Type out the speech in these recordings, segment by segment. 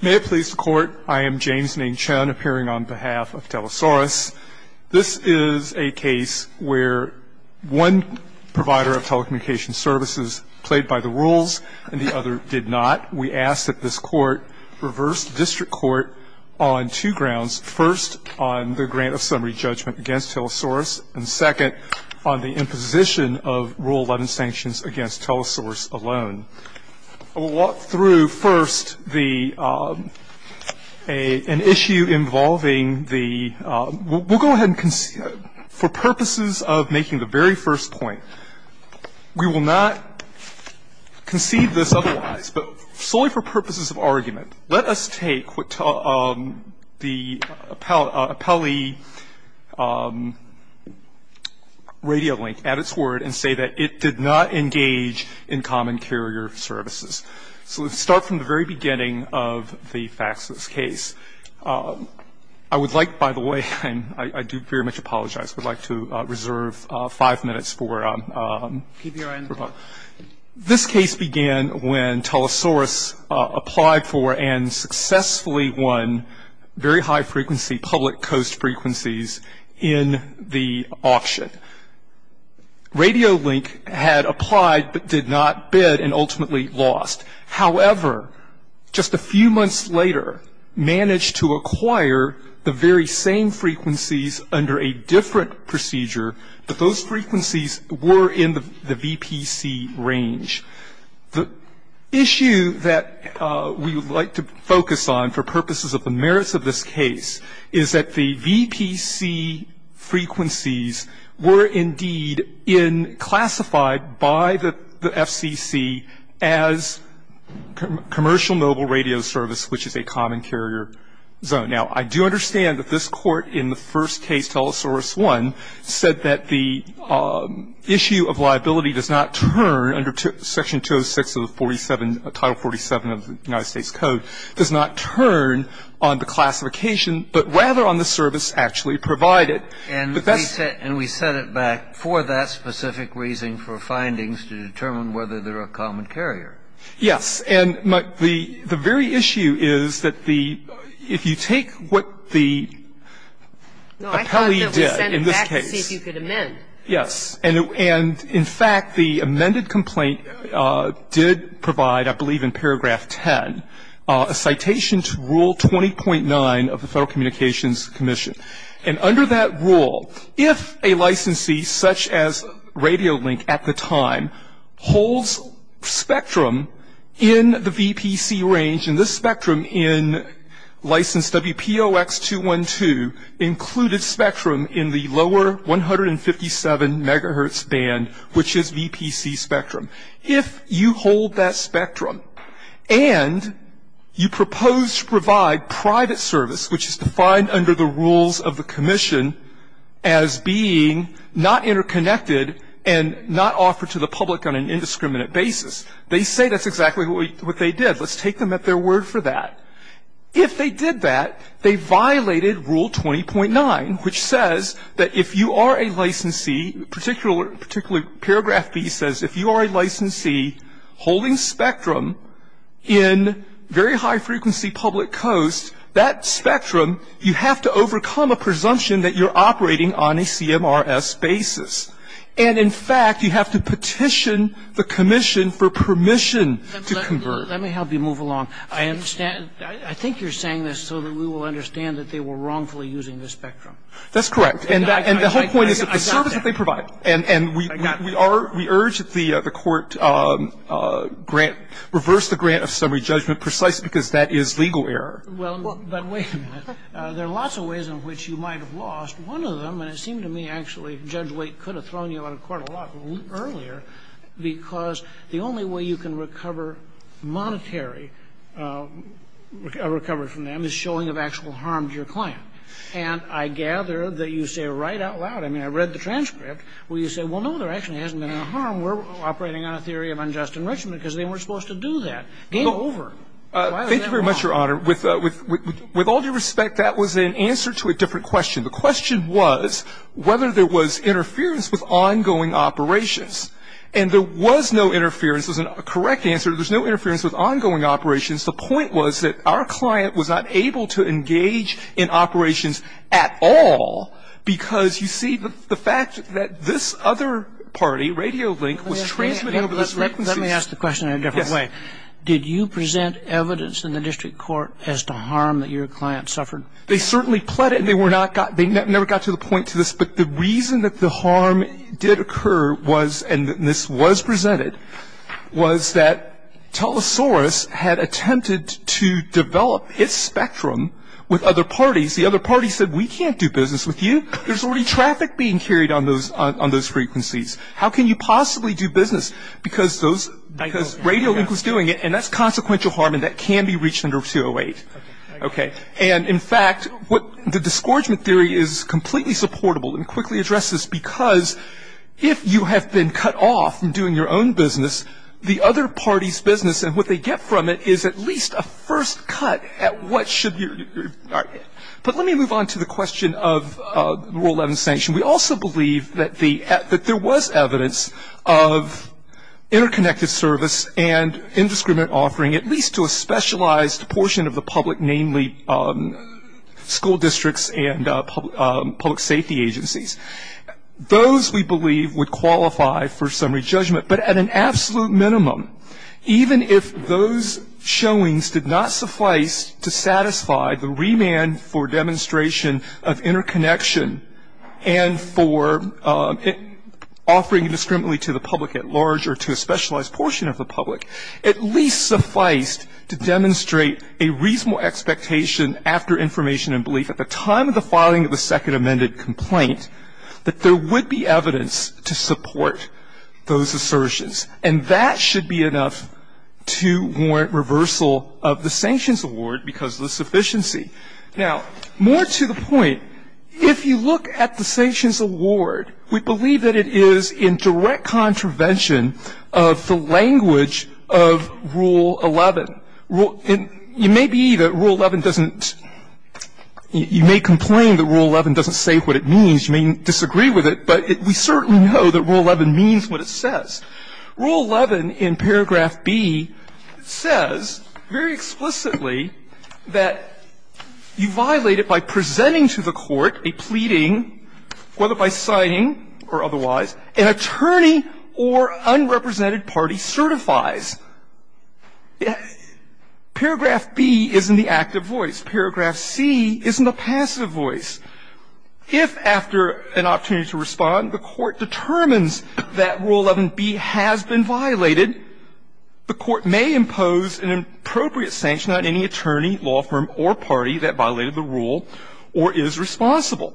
May it please the Court, I am James Ning Chun appearing on behalf of Telesaurus. This is a case where one provider of telecommunications services played by the rules and the other did not. We ask that this Court reverse the district court on two grounds, first on the grant of summary judgment against Telesaurus, and second on the imposition of Rule 11 sanctions against Telesaurus alone. I will walk through first an issue involving the we'll go ahead and for purposes of making the very first point, we will not concede this otherwise, but solely for purposes of argument. Let us take the appellee radio link at its word and say that it did not engage in common carrier services. So let's start from the very beginning of the FACSIS case. I would like, by the way, and I do very much apologize, would like to reserve five minutes for Keep your eye on the clock. This case began when Telesaurus applied for and successfully won very high frequency public coast frequencies in the auction. Radio link had applied but did not bid and ultimately lost. However, just a few months later managed to acquire the very same frequencies under a different procedure, but those frequencies were in the VPC range. The issue that we would like to focus on for purposes of the merits of this case is that the VPC frequencies were indeed classified by the FCC as commercial mobile radio service, which is a common carrier zone. Now, I do understand that this Court in the first case, Telesaurus I, said that the issue of liability does not turn under Section 206 of the 47, Title 47 of the United States Code, does not turn on the classification, but rather on the service actually provided. And we set it back for that specific reason, for findings to determine whether they're a common carrier. Yes. And the very issue is that if you take what the appellee did in this case. No, I thought that we sent it back to see if you could amend. Yes. And in fact, the amended complaint did provide, I believe in paragraph 10, a citation to Rule 20.9 of the Federal Communications Commission. And under that rule, if a licensee, such as Radiolink at the time, holds spectrum in the VPC range, and this spectrum in license WPOX-212 included spectrum in the lower 157 megahertz band, which is VPC spectrum. If you hold that spectrum and you propose to provide private service, which is defined under the rules of the commission as being not interconnected and not offered to the public on an indiscriminate basis, they say that's exactly what they did. Let's take them at their word for that. If they did that, they violated Rule 20.9, which says that if you are a licensee, particularly paragraph B says if you are a licensee holding spectrum in very high frequency public coasts, that spectrum, you have to overcome a presumption that you're operating on a CMRS basis. And in fact, you have to petition the commission for permission to convert. Let me help you move along. I understand. I think you're saying this so that we will understand that they were wrongfully using this spectrum. That's correct. And the whole point is that the service that they provide. And we are, we urge that the Court grant, reverse the grant of summary judgment precisely because that is legal error. Well, but wait a minute. There are lots of ways in which you might have lost. One of them, and it seemed to me actually Judge Waite could have thrown you out of court a lot earlier, because the only way you can recover monetary recovery from them is showing of actual harm to your client. And I gather that you say right out loud, I mean, I read the transcript, where you say, well, no, there actually hasn't been any harm. We're operating on a theory of unjust enrichment because they weren't supposed to do that. Game over. Thank you very much, Your Honor. With all due respect, that was an answer to a different question. The question was whether there was interference with ongoing operations. And there was no interference. It was a correct answer. There was no interference with ongoing operations. The point was that our client was not able to engage in operations at all because you see the fact that this other party, Radio Link, was transmitting over those frequencies. Let me ask the question in a different way. Yes. Did you present evidence in the district court as to harm that your client suffered? They certainly pled it. They never got to the point to this. But the reason that the harm did occur was, and this was presented, was that Telesaurus had attempted to develop its spectrum with other parties. The other parties said, we can't do business with you. There's already traffic being carried on those frequencies. How can you possibly do business because Radio Link was doing it? And that's consequential harm and that can be reached under 208. Okay. And, in fact, the disgorgement theory is completely supportable and quickly addresses because if you have been cut off from doing your own business, the other party's business and what they get from it is at least a first cut at what should be. But let me move on to the question of Rule 11 sanction. We also believe that there was evidence of interconnected service and indiscriminate offering, at least to a specialized portion of the public, namely school districts and public safety agencies. Those, we believe, would qualify for summary judgment. But at an absolute minimum, even if those showings did not suffice to satisfy the remand for demonstration of interconnection and for offering indiscriminately to the public at large or to a specialized portion of the public, at least sufficed to demonstrate a reasonable expectation after information and belief at the time of the filing of the second amended complaint that there would be evidence to support those assertions. And that should be enough to warrant reversal of the sanctions award because of the sufficiency. Now, more to the point, if you look at the sanctions award, we believe that it is in direct contravention of the language of Rule 11. You may be that Rule 11 doesn't, you may complain that Rule 11 doesn't say what it means. You may disagree with it, but we certainly know that Rule 11 means what it says. Rule 11 in paragraph B says very explicitly that you violate it by presenting to the court a pleading, whether by signing or otherwise, an attorney or unrepresented party certifies. Paragraph B is in the active voice. Paragraph C is in the passive voice. If, after an opportunity to respond, the court determines that Rule 11B has been violated, the court may impose an appropriate sanction on any attorney, law firm or party that violated the rule or is responsible.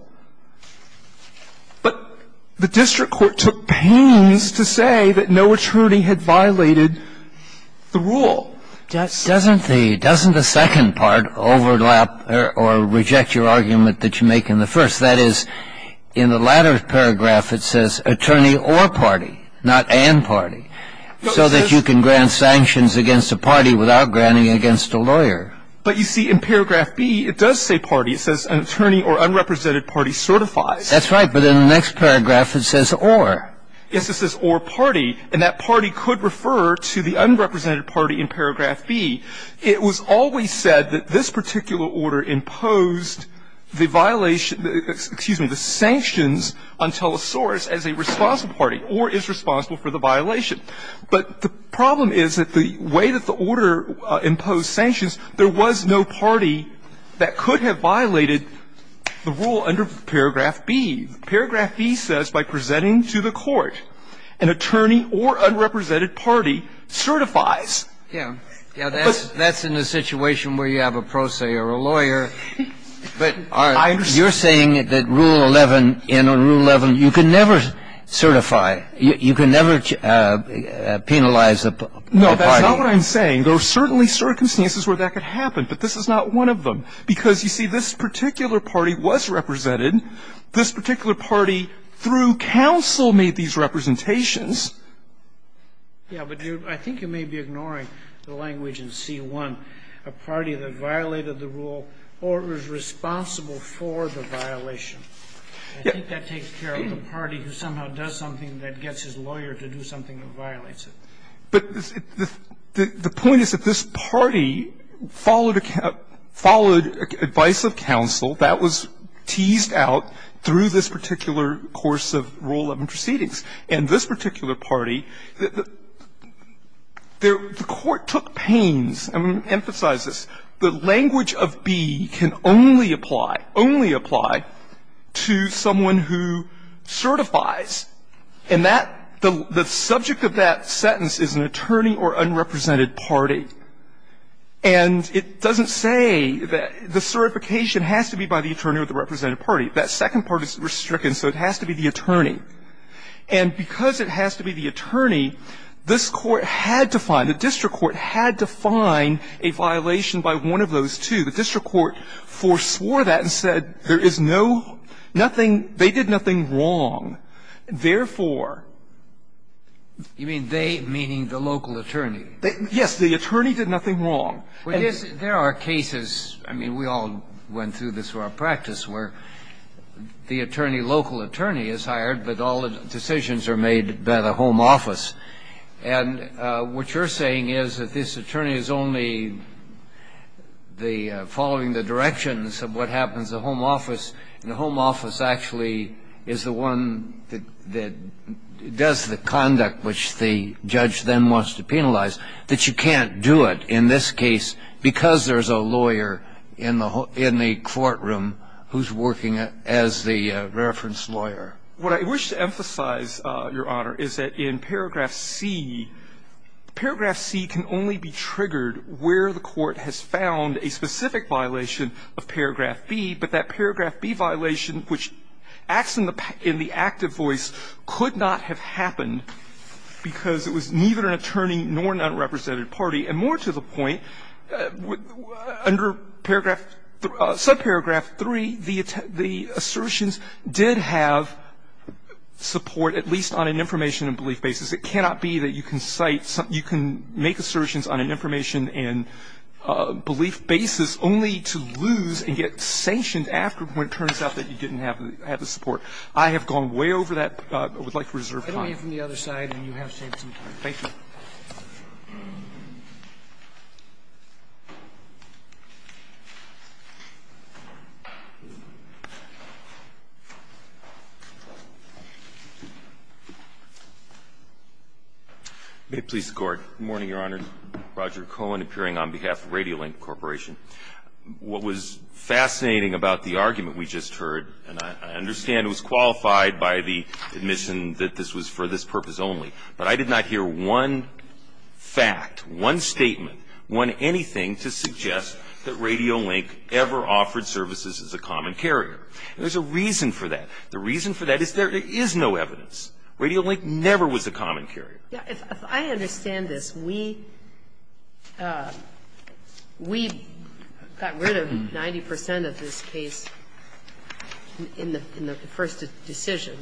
But the district court took pains to say that no attorney had violated the rule. Doesn't the second part overlap or reject your argument that you make in the first? That is, in the latter paragraph, it says attorney or party, not and party, so that you can grant sanctions against a party without granting against a lawyer. But you see, in paragraph B, it does say party. It says an attorney or unrepresented party certifies. That's right. But in the next paragraph, it says or. Yes, it says or party. And that party could refer to the unrepresented party in paragraph B. It was always said that this particular order imposed the violation, excuse me, the sanctions on Telesaurus as a responsible party or is responsible for the violation. But the problem is that the way that the order imposed sanctions, there was no party that could have violated the rule under paragraph B. Paragraph B says by presenting to the court an attorney or unrepresented party certifies. Yeah. Yeah, that's in a situation where you have a pro se or a lawyer. But you're saying that rule 11, in rule 11, you can never certify. You can never penalize a party. No, that's not what I'm saying. There are certainly circumstances where that could happen, but this is not one of them. Because, you see, this particular party was represented. This particular party, through counsel, made these representations. Yeah, but I think you may be ignoring the language in C-1, a party that violated the rule or is responsible for the violation. I think that takes care of the party who somehow does something that gets his lawyer to do something that violates it. But the point is that this party followed advice of counsel. That was teased out through this particular course of rule 11 proceedings. And this particular party, the court took pains and emphasized this. The language of B can only apply, only apply, to someone who certifies. And that the subject of that sentence is an attorney or unrepresented party. And it doesn't say that the certification has to be by the attorney or the represented party. That second part is restricted, so it has to be the attorney. And because it has to be the attorney, this Court had to find, the district court had to find a violation by one of those two. The district court foreswore that and said there is no, nothing, they did nothing wrong, therefore. You mean they, meaning the local attorney? Yes, the attorney did nothing wrong. There are cases, I mean, we all went through this for our practice, where the attorney, local attorney is hired, but all the decisions are made by the home office. And what you're saying is that this attorney is only the, following the directions of what happens in the home office, and the home office actually is the one that does the conduct which the judge then wants to penalize, that you can't do it in this case because there's a lawyer in the courtroom who's working as the reference lawyer. What I wish to emphasize, Your Honor, is that in paragraph C, paragraph C can only be triggered where the court has found a specific violation of paragraph B, but that paragraph B violation, which acts in the active voice, could not have happened because it was neither an attorney nor an unrepresented party. And more to the point, under paragraph, subparagraph 3, the assertions did have support, at least on an information and belief basis. It cannot be that you can cite something you can make assertions on an information and belief basis only to lose and get sanctioned after when it turns out that you didn't have the support. I have gone way over that, but I would like to reserve time. Roberts, I'm going to call you from the other side and you have some time. Thank you. May it please the Court. Good morning, Your Honor. Roger Cohen appearing on behalf of Radiolink Corporation. What was fascinating about the argument we just heard, and I understand it was qualified by the admission that this was for this purpose only, but I did not hear one fact, one statement, one anything to suggest that Radiolink ever offered services as a common carrier. And there's a reason for that. The reason for that is there is no evidence. Radiolink never was a common carrier. If I understand this, we got rid of 90 percent of this case in the first decision.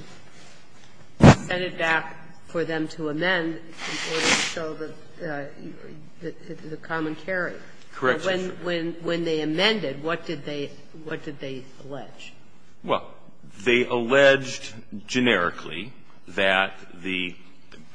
We sent it back for them to amend in order to show the common carrier. Correction. When they amended, what did they allege? Well, they alleged generically that the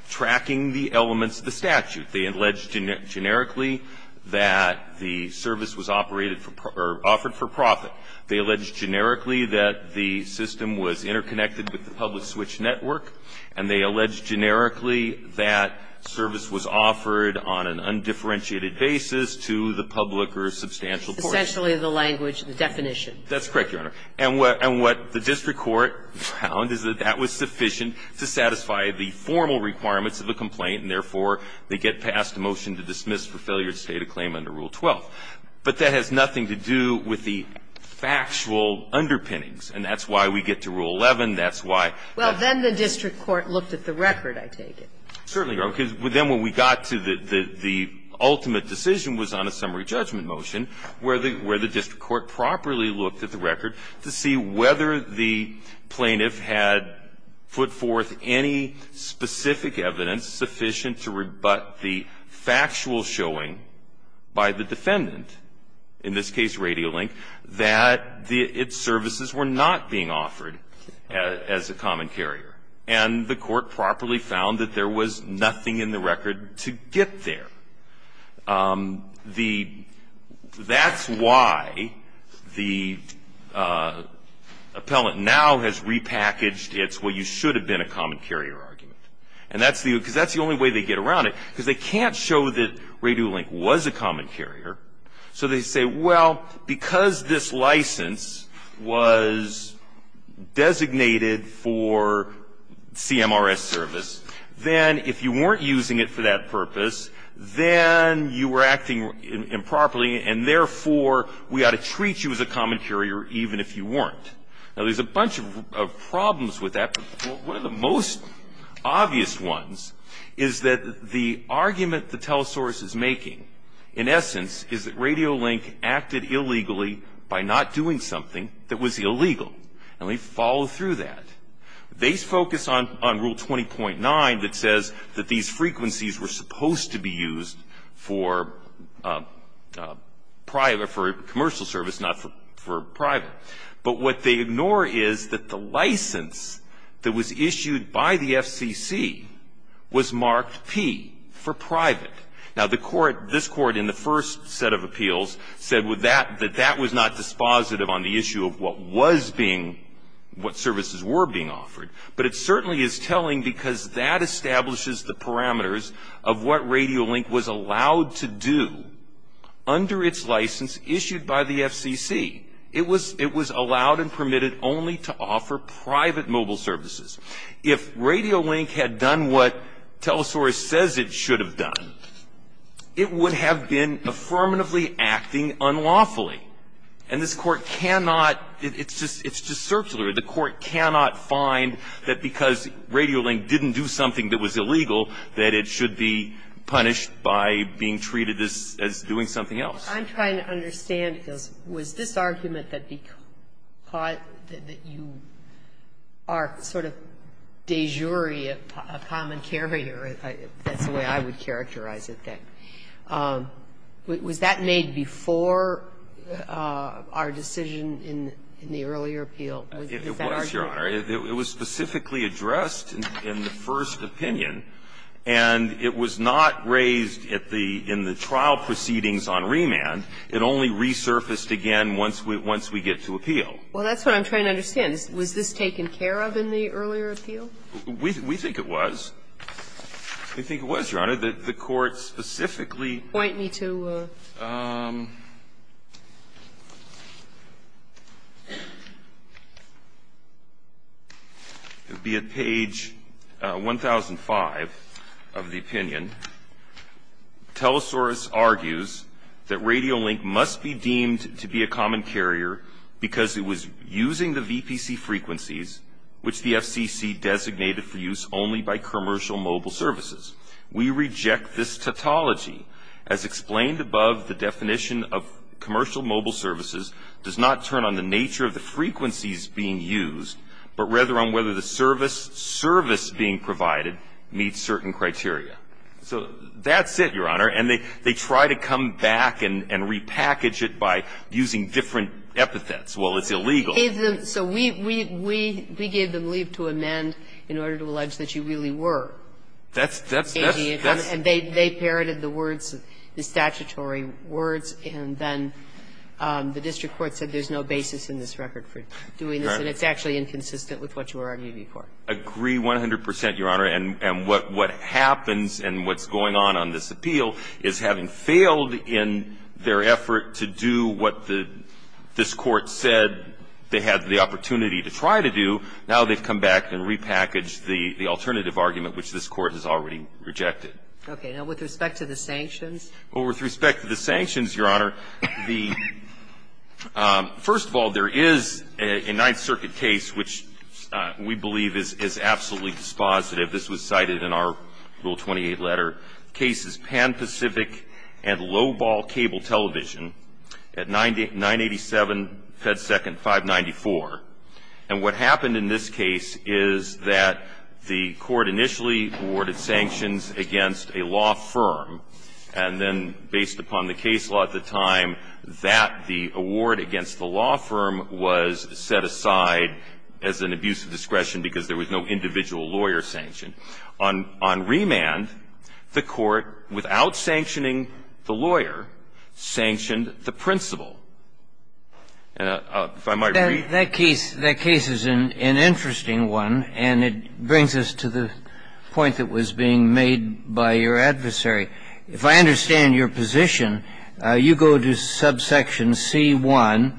tracking the elements of the statute. They alleged generically that the service was operated for or offered for profit. They alleged generically that the system was interconnected with the public switch network. And they alleged generically that service was offered on an undifferentiated basis to the public or substantial portion. Essentially the language, the definition. That's correct, Your Honor. And what the district court found is that that was sufficient to satisfy the formal requirements of a complaint, and therefore they get passed a motion to dismiss for failure to state a claim under Rule 12. But that has nothing to do with the factual underpinnings, and that's why we get to Rule 11. That's why the district court looked at the record, I take it. Certainly, Your Honor, because then when we got to the ultimate decision was on a summary judgment motion where the district court properly looked at the record to see whether the plaintiff had put forth any specific evidence sufficient to rebut the factual showing by the defendant, in this case Radiolink, that its services were not being offered as a common carrier. And the court properly found that there was nothing in the record to get there. That's why the appellant now has repackaged its, well, you should have been a common carrier argument, because that's the only way they get around it, because they can't show that Radiolink was a common carrier. So they say, well, because this license was designated for CMRS service, then if you weren't using it for that purpose, then you were acting improperly, and therefore we ought to treat you as a common carrier even if you weren't. Now, there's a bunch of problems with that, but one of the most obvious ones is that the argument the telesource is making, in essence, is that Radiolink acted illegally by not doing something that was illegal. And we follow through that. They focus on Rule 20.9 that says that these frequencies were supposed to be used for private or for commercial service, not for private. But what they ignore is that the license that was issued by the FCC was marked P for private. Now, the court, this Court in the first set of appeals said that that was not dispositive on the issue of what was being, what services were being offered. But it certainly is telling because that establishes the parameters of what Radiolink was allowed to do under its license issued by the FCC. It was allowed and permitted only to offer private mobile services. If Radiolink had done what telesource says it should have done, it would have been affirmatively acting unlawfully. And this Court cannot, it's just, it's just circular. The Court cannot find that because Radiolink didn't do something that was illegal that it should be punished by being treated as doing something else. I'm trying to understand, because was this argument that you are sort of de jure a common carrier, that's the way I would characterize it, that was that made before our decision in the earlier appeal? Is that our judgment? It was, Your Honor. It was specifically addressed in the first opinion, and it was not raised at the, in the trial proceedings on remand. It only resurfaced again once we, once we get to appeal. Well, that's what I'm trying to understand. Was this taken care of in the earlier appeal? We think it was. We think it was, Your Honor, that the Court specifically. Point me to. It would be at page 1005 of the opinion. Telesaurus argues that Radiolink must be deemed to be a common carrier because it was using the VPC frequencies which the FCC designated for use only by commercial mobile services. We reject this tautology. As explained above, the definition of commercial mobile services does not turn on the nature of the frequencies being used, but rather on whether the service, service being provided meets certain criteria. So that's it, Your Honor. And they try to come back and repackage it by using different epithets. Well, it's illegal. So we gave them leave to amend in order to allege that you really were. That's, that's, that's, that's. And they parroted the words, the statutory words, and then the district court said there's no basis in this record for doing this, and it's actually inconsistent with what you were arguing for. I agree 100 percent, Your Honor. And what happens and what's going on on this appeal is having failed in their effort to do what the this Court said they had the opportunity to try to do, now they've come back and repackaged the alternative argument which this Court has already rejected. Okay. Now, with respect to the sanctions? Well, with respect to the sanctions, Your Honor, the – first of all, there is a Ninth Circuit case which we believe is absolutely dispositive. This was cited in our Rule 28 letter. The case is Pan Pacific and Low Ball Cable Television at 987 Fed Second 594. And what happened in this case is that the Court initially awarded sanctions against a law firm, and then based upon the case law at the time, that the award against the law firm was set aside as an abuse of discretion because there was no individual lawyer sanction. On remand, the Court, without sanctioning the lawyer, sanctioned the principal. And if I might repeat – That case – that case is an interesting one, and it brings us to the point that was being made by your adversary. If I understand your position, you go to subsection C1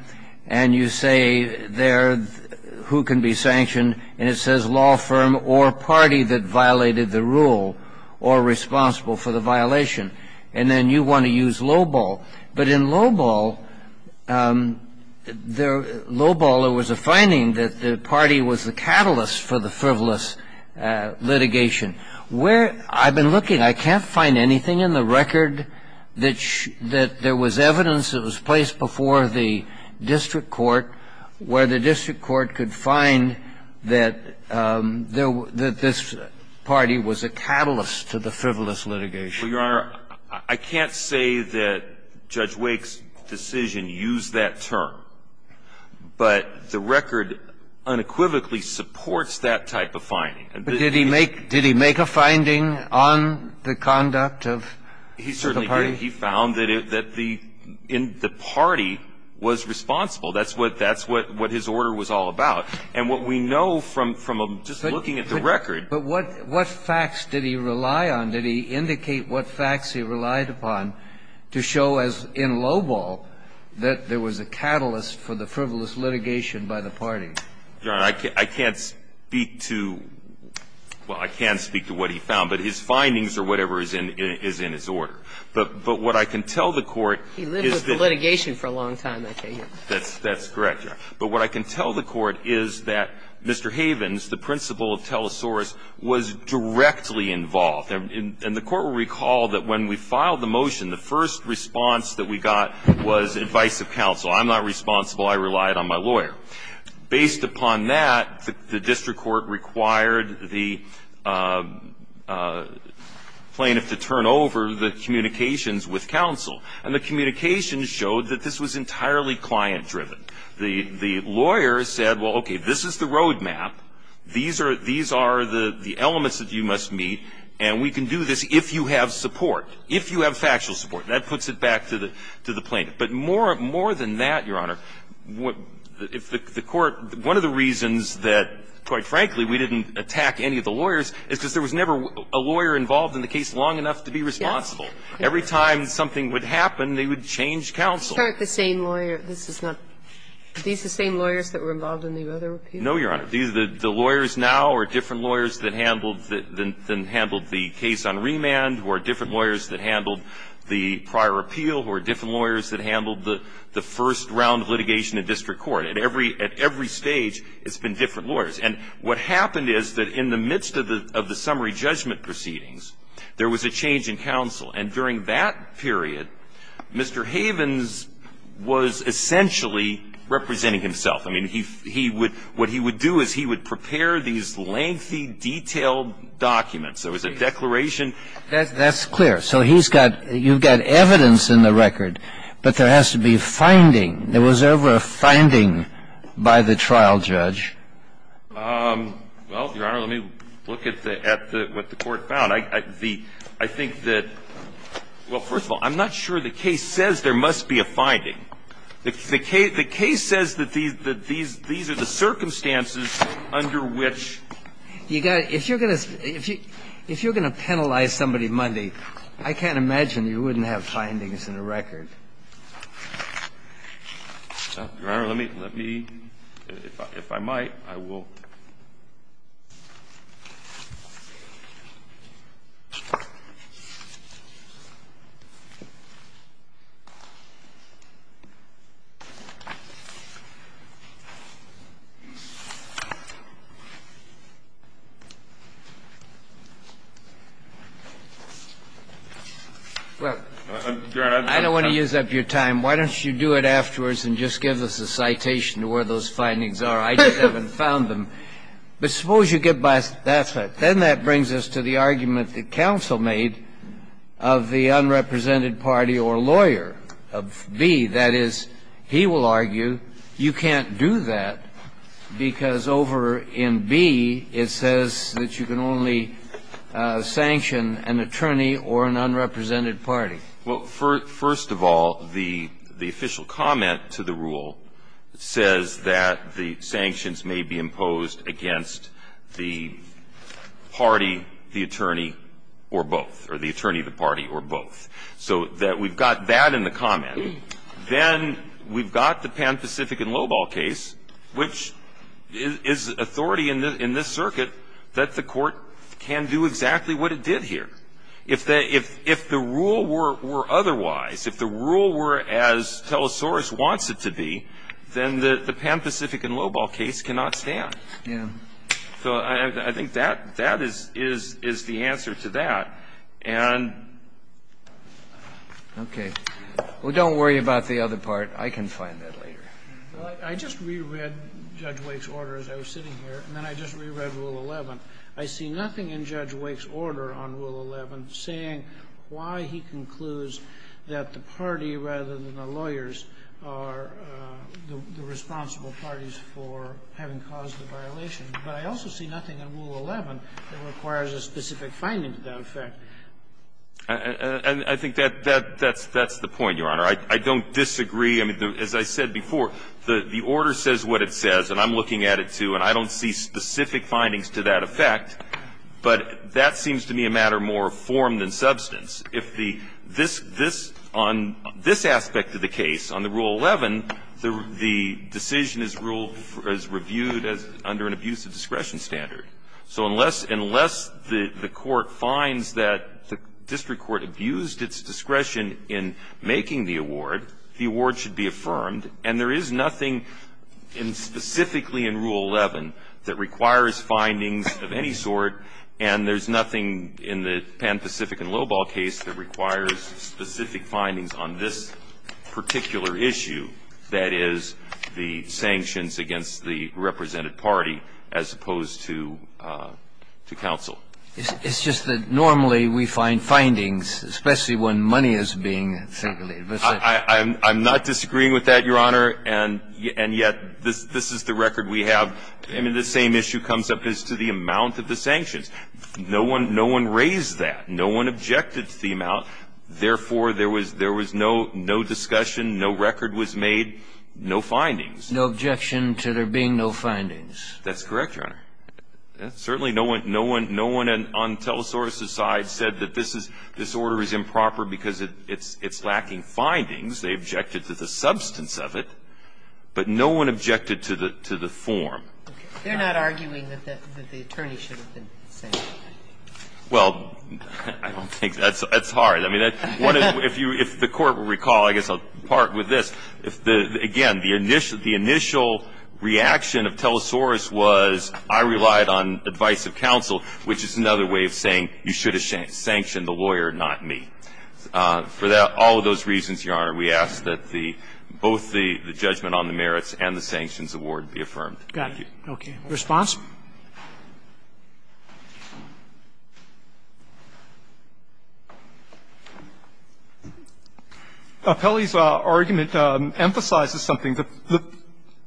and you say there who can be sanctioned, and it says law firm or party that violated the rule or responsible for the violation. And then you want to use Low Ball. But in Low Ball, there was a finding that the party was the catalyst for the frivolous litigation. Where – I've been looking. I can't find anything in the record that there was evidence that was placed before the district court where the district court could find that this party was a catalyst to the frivolous litigation. Well, Your Honor, I can't say that Judge Wake's decision used that term. But the record unequivocally supports that type of finding. But did he make – did he make a finding on the conduct of the party? He certainly did. He found that the party was responsible. That's what his order was all about. And what we know from just looking at the record – But what facts did he rely on? Did he indicate what facts he relied upon to show as in Low Ball that there was a catalyst for the frivolous litigation by the party? Your Honor, I can't speak to – well, I can speak to what he found. But his findings or whatever is in his order. But what I can tell the Court is that – He lived with the litigation for a long time, I take it. That's correct, Your Honor. But what I can tell the Court is that Mr. Havens, the principal of Telesaurus, was directly involved. And the Court will recall that when we filed the motion, the first response that we got was advice of counsel. I'm not responsible. I relied on my lawyer. Based upon that, the district court required the plaintiff to turn over the communications with counsel. And the communications showed that this was entirely client-driven. The lawyer said, well, okay, this is the roadmap. These are the elements that you must meet, and we can do this if you have support, if you have factual support. That puts it back to the plaintiff. But more than that, Your Honor, if the Court – one of the reasons that, quite frankly, we didn't attack any of the lawyers is because there was never a lawyer involved in the case long enough to be responsible. Yes. Every time something would happen, they would change counsel. Are these the same lawyers that were involved in the other appeals? No, Your Honor. The lawyers now are different lawyers that handled the case on remand, who are different lawyers that handled the prior appeal, who are different lawyers that handled the first round of litigation in district court. At every stage, it's been different lawyers. And what happened is that in the midst of the summary judgment proceedings, there was a change in counsel. And during that period, Mr. Havens was essentially representing himself. I mean, he would – what he would do is he would prepare these lengthy, detailed documents. There was a declaration. That's clear. So he's got – you've got evidence in the record, but there has to be finding. There was never a finding by the trial judge. Well, Your Honor, let me look at the – at what the Court found. I think that – well, first of all, I'm not sure the case says there must be a finding. The case says that these are the circumstances under which you got to – if you're going to penalize somebody, I can't imagine you wouldn't have findings in the record. Your Honor, let me – if I might, I will. Well, Your Honor, I don't want to use up your time. Why don't you do it afterwards and just give us a citation to where those findings are. I just haven't found them. But suppose you get by – then that brings us to the argument that counsel made of the unrepresented party or lawyer of B. That is, he will argue you can't do that because over in B it says that you can only sanction an attorney or an unrepresented party. Well, first of all, the official comment to the rule says that the sanctions may be imposed against the party, the attorney, or both, or the attorney, the party, or both. So we've got that in the comment. Then we've got the Pan-Pacific and Lobol case, which is authority in this circuit that the Court can do exactly what it did here. If the rule were otherwise, if the rule were as Telesaurus wants it to be, then the Pan-Pacific and Lobol case cannot stand. Yeah. So I think that is the answer to that. And – Okay. Well, don't worry about the other part. I can find that later. Well, I just reread Judge Wake's order as I was sitting here, and then I just reread Rule 11. I see nothing in Judge Wake's order on Rule 11 saying why he concludes that the party rather than the lawyers are the responsible parties for having caused the violation. But I also see nothing in Rule 11 that requires a specific finding to that effect. I think that's the point, Your Honor. I don't disagree. I mean, as I said before, the order says what it says, and I'm looking at it, too, and I don't see specific findings to that effect. But that seems to me a matter more of form than substance. If the – this – this – on this aspect of the case, on the Rule 11, the decision is ruled – is reviewed as under an abuse of discretion standard. So unless – unless the Court finds that the district court abused its discretion in making the award, the award should be affirmed. And there is nothing in – specifically in Rule 11 that requires findings of any sort, and there's nothing in the Pan-Pacific and Lobau case that requires specific findings on this particular issue, that is, the sanctions against the represented party as opposed to – to counsel. It's just that normally we find findings, especially when money is being circulated. I'm not disagreeing with that, Your Honor, and yet this is the record we have. I mean, the same issue comes up as to the amount of the sanctions. No one – no one raised that. No one objected to the amount. Therefore, there was – there was no discussion, no record was made, no findings. No objection to there being no findings. That's correct, Your Honor. Certainly no one – no one on Telesaurus's side said that this is – this order is not in the Pan-Pacific, but it's in the Lobau case, and it's in the Pan-Pacific So they objected to the findings. They objected to the substance of it, but no one objected to the – to the form. They're not arguing that the attorney should have been sanctioned. Well, I don't think that's – that's hard. I mean, if you – if the Court will recall, I guess I'll part with this. If the – again, the initial – the initial reaction of Telesaurus was I relied on advice of counsel, which is another way of saying you should have sanctioned the lawyer, not me. For that – all of those reasons, Your Honor, we ask that the – both the judgment on the merits and the sanctions award be affirmed. Thank you. Got it. Okay. Response? Pelley's argument emphasizes something. The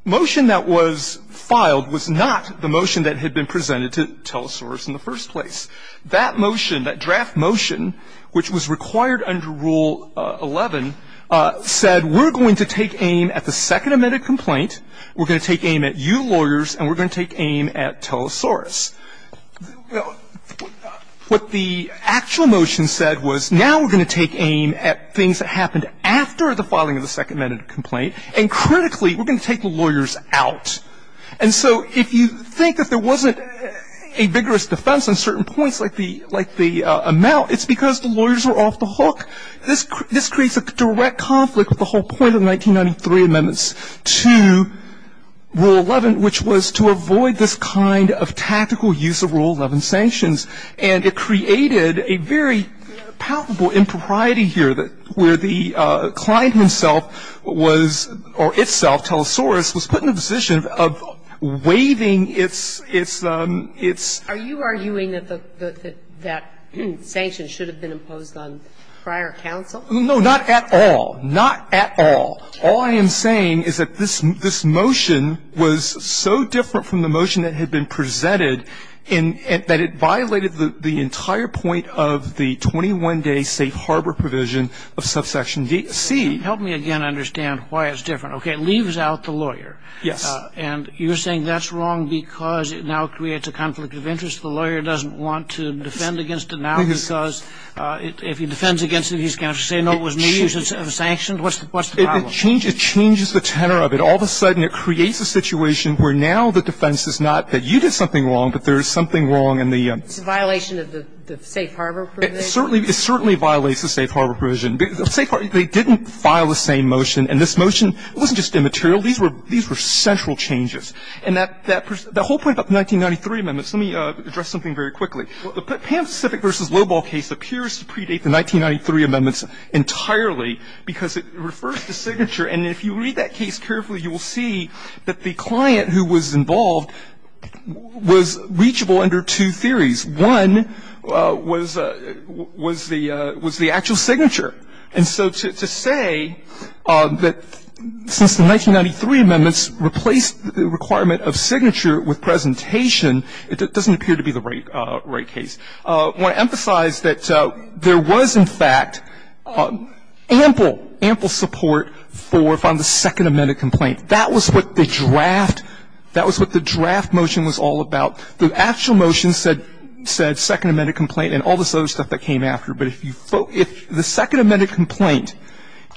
motion that was filed was not the motion that had been presented to Telesaurus in the first place. That motion, that draft motion, which was required under Rule 11, said we're going to take aim at the second amended complaint, we're going to take aim at you lawyers, and we're going to take aim at Telesaurus. What the actual motion said was now we're going to take aim at things that happened after the filing of the second amended complaint, and critically, we're going to take the lawyers out. And so if you think that there wasn't a vigorous defense on certain points like the amount, it's because the lawyers were off the hook. This creates a direct conflict with the whole point of the 1993 amendments to Rule 11, which was to avoid this kind of tactical use of Rule 11 sanctions. And it created a very palpable impropriety here where the client himself was – or itself, Telesaurus, was put in a position of waiving its – its – Are you arguing that the – that sanctions should have been imposed on prior counsel? No, not at all. Not at all. All I am saying is that this – this motion was so different from the motion that had been presented in – that it violated the entire point of the 21-day safe harbor provision of subsection C. Help me again understand why it's different. Okay. It leaves out the lawyer. Yes. And you're saying that's wrong because it now creates a conflict of interest. The lawyer doesn't want to defend against it now because if he defends against it, he's going to have to say, no, it was me, it was sanctioned. What's the problem? It changes – it changes the tenor of it. All of a sudden it creates a situation where now the defense is not that you did something wrong, but there is something wrong in the – It's a violation of the safe harbor provision? It certainly – it certainly violates the safe harbor provision. They didn't file the same motion. And this motion wasn't just immaterial. These were – these were central changes. And that – that whole point about the 1993 amendments, let me address something very quickly. The Pan Pacific v. Lobol case appears to predate the 1993 amendments entirely because it refers to signature. And if you read that case carefully, you will see that the client who was involved was reachable under two theories. One was – was the – was the actual signature. And so to say that since the 1993 amendments replaced the requirement of signature with presentation, it doesn't appear to be the right – right case. I want to emphasize that there was, in fact, ample, ample support for – from the second amended complaint. That was what the draft – that was what the draft motion was all about. The actual motion said – said second amended complaint and all this other stuff that came after. But if you – if the second amended complaint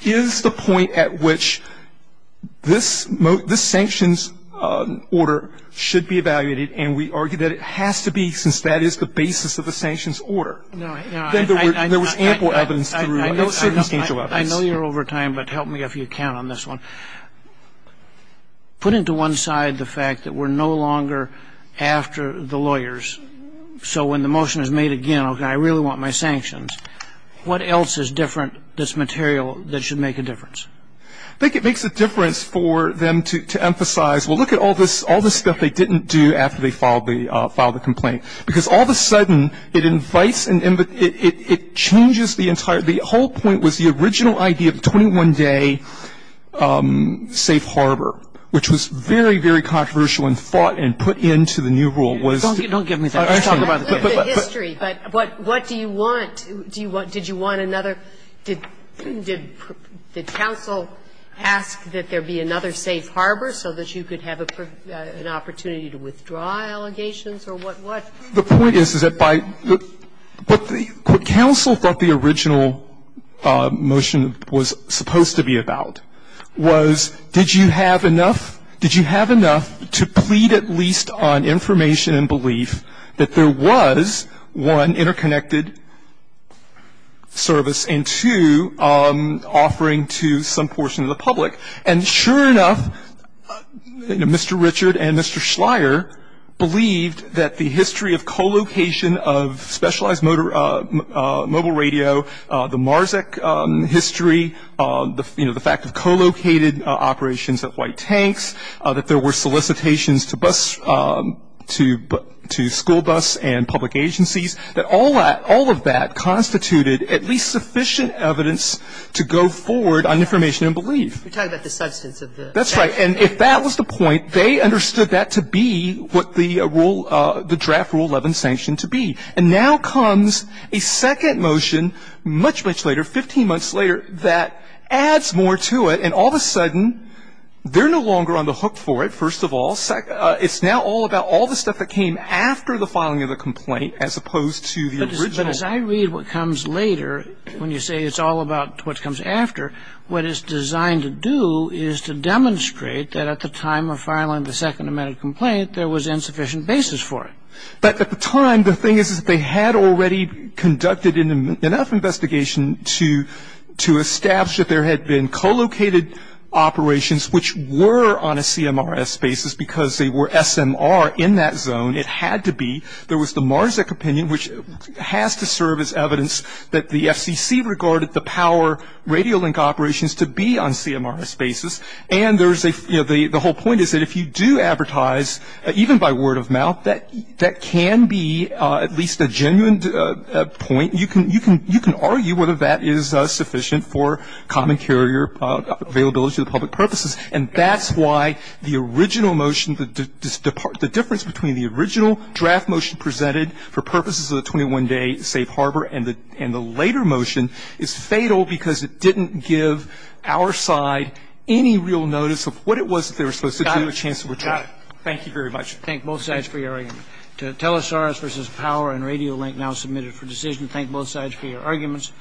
is the point at which this – this sanctions order should be evaluated, and we argue that it has to be since that is the basis of the sanctions order. Then there were – there was ample evidence. There were no circumstantial evidence. I know you're over time, but help me if you can on this one. Put into one side the fact that we're no longer after the lawyers. So when the motion is made again, okay, I really want my sanctions, what else is different that's material that should make a difference? I think it makes a difference for them to emphasize, well, look at all this – all this stuff they didn't do after they filed the – filed the complaint. Because all of a sudden, it invites – it changes the entire – the whole point was the original idea of a 21-day safe harbor, which was very, very controversial and fought and put into the new rule. Don't give me that. Let's talk about the history. But what do you want? Do you want – did you want another – did – did counsel ask that there be another safe harbor so that you could have an opportunity to withdraw allegations or what – what? The point is, is that by – what counsel thought the original motion was supposed to be about was did you have enough – did you have enough to plead at least on information and belief that there was, one, interconnected service and, two, offering to some portion of the public? And sure enough, you know, Mr. Richard and Mr. Schleyer believed that the history of co-location of specialized motor – mobile radio, the MARSEC history, you know, the fact of co-located operations of white tanks, that there were solicitations to bus – to school bus and public agencies, that all of that constituted at least sufficient evidence to go forward on information and belief. You're talking about the substance of the – That's right. And if that was the point, they understood that to be what the rule – the draft Rule 11 sanctioned to be. And now comes a second motion, much, much later, 15 months later, that adds more to it, and all of a sudden, they're no longer on the hook for it, first of all. It's now all about all the stuff that came after the filing of the complaint as opposed to the original. But as I read what comes later, when you say it's all about what comes after, what it's designed to do is to demonstrate that at the time of filing the second amendment complaint, there was insufficient basis for it. But at the time, the thing is that they had already conducted enough investigation to establish that there had been co-located operations which were on a CMRS basis because they were SMR in that zone. It had to be. There was the Marzek opinion, which has to serve as evidence that the FCC regarded the power radio link operations to be on CMRS basis. And there's a – you know, the whole point is that if you do advertise, even by word of mouth, that can be at least a genuine point. You can argue whether that is sufficient for common carrier availability to the public purposes. And that's why the original motion, the difference between the original draft motion presented for purposes of the 21-day safe harbor and the later motion is fatal because it didn't give our side any real notice of what it was that they were supposed Thank you very much. Thank both sides for your argument. To Telesaurus v. Power and Radio Link now submitted for decision. Thank both sides for your arguments.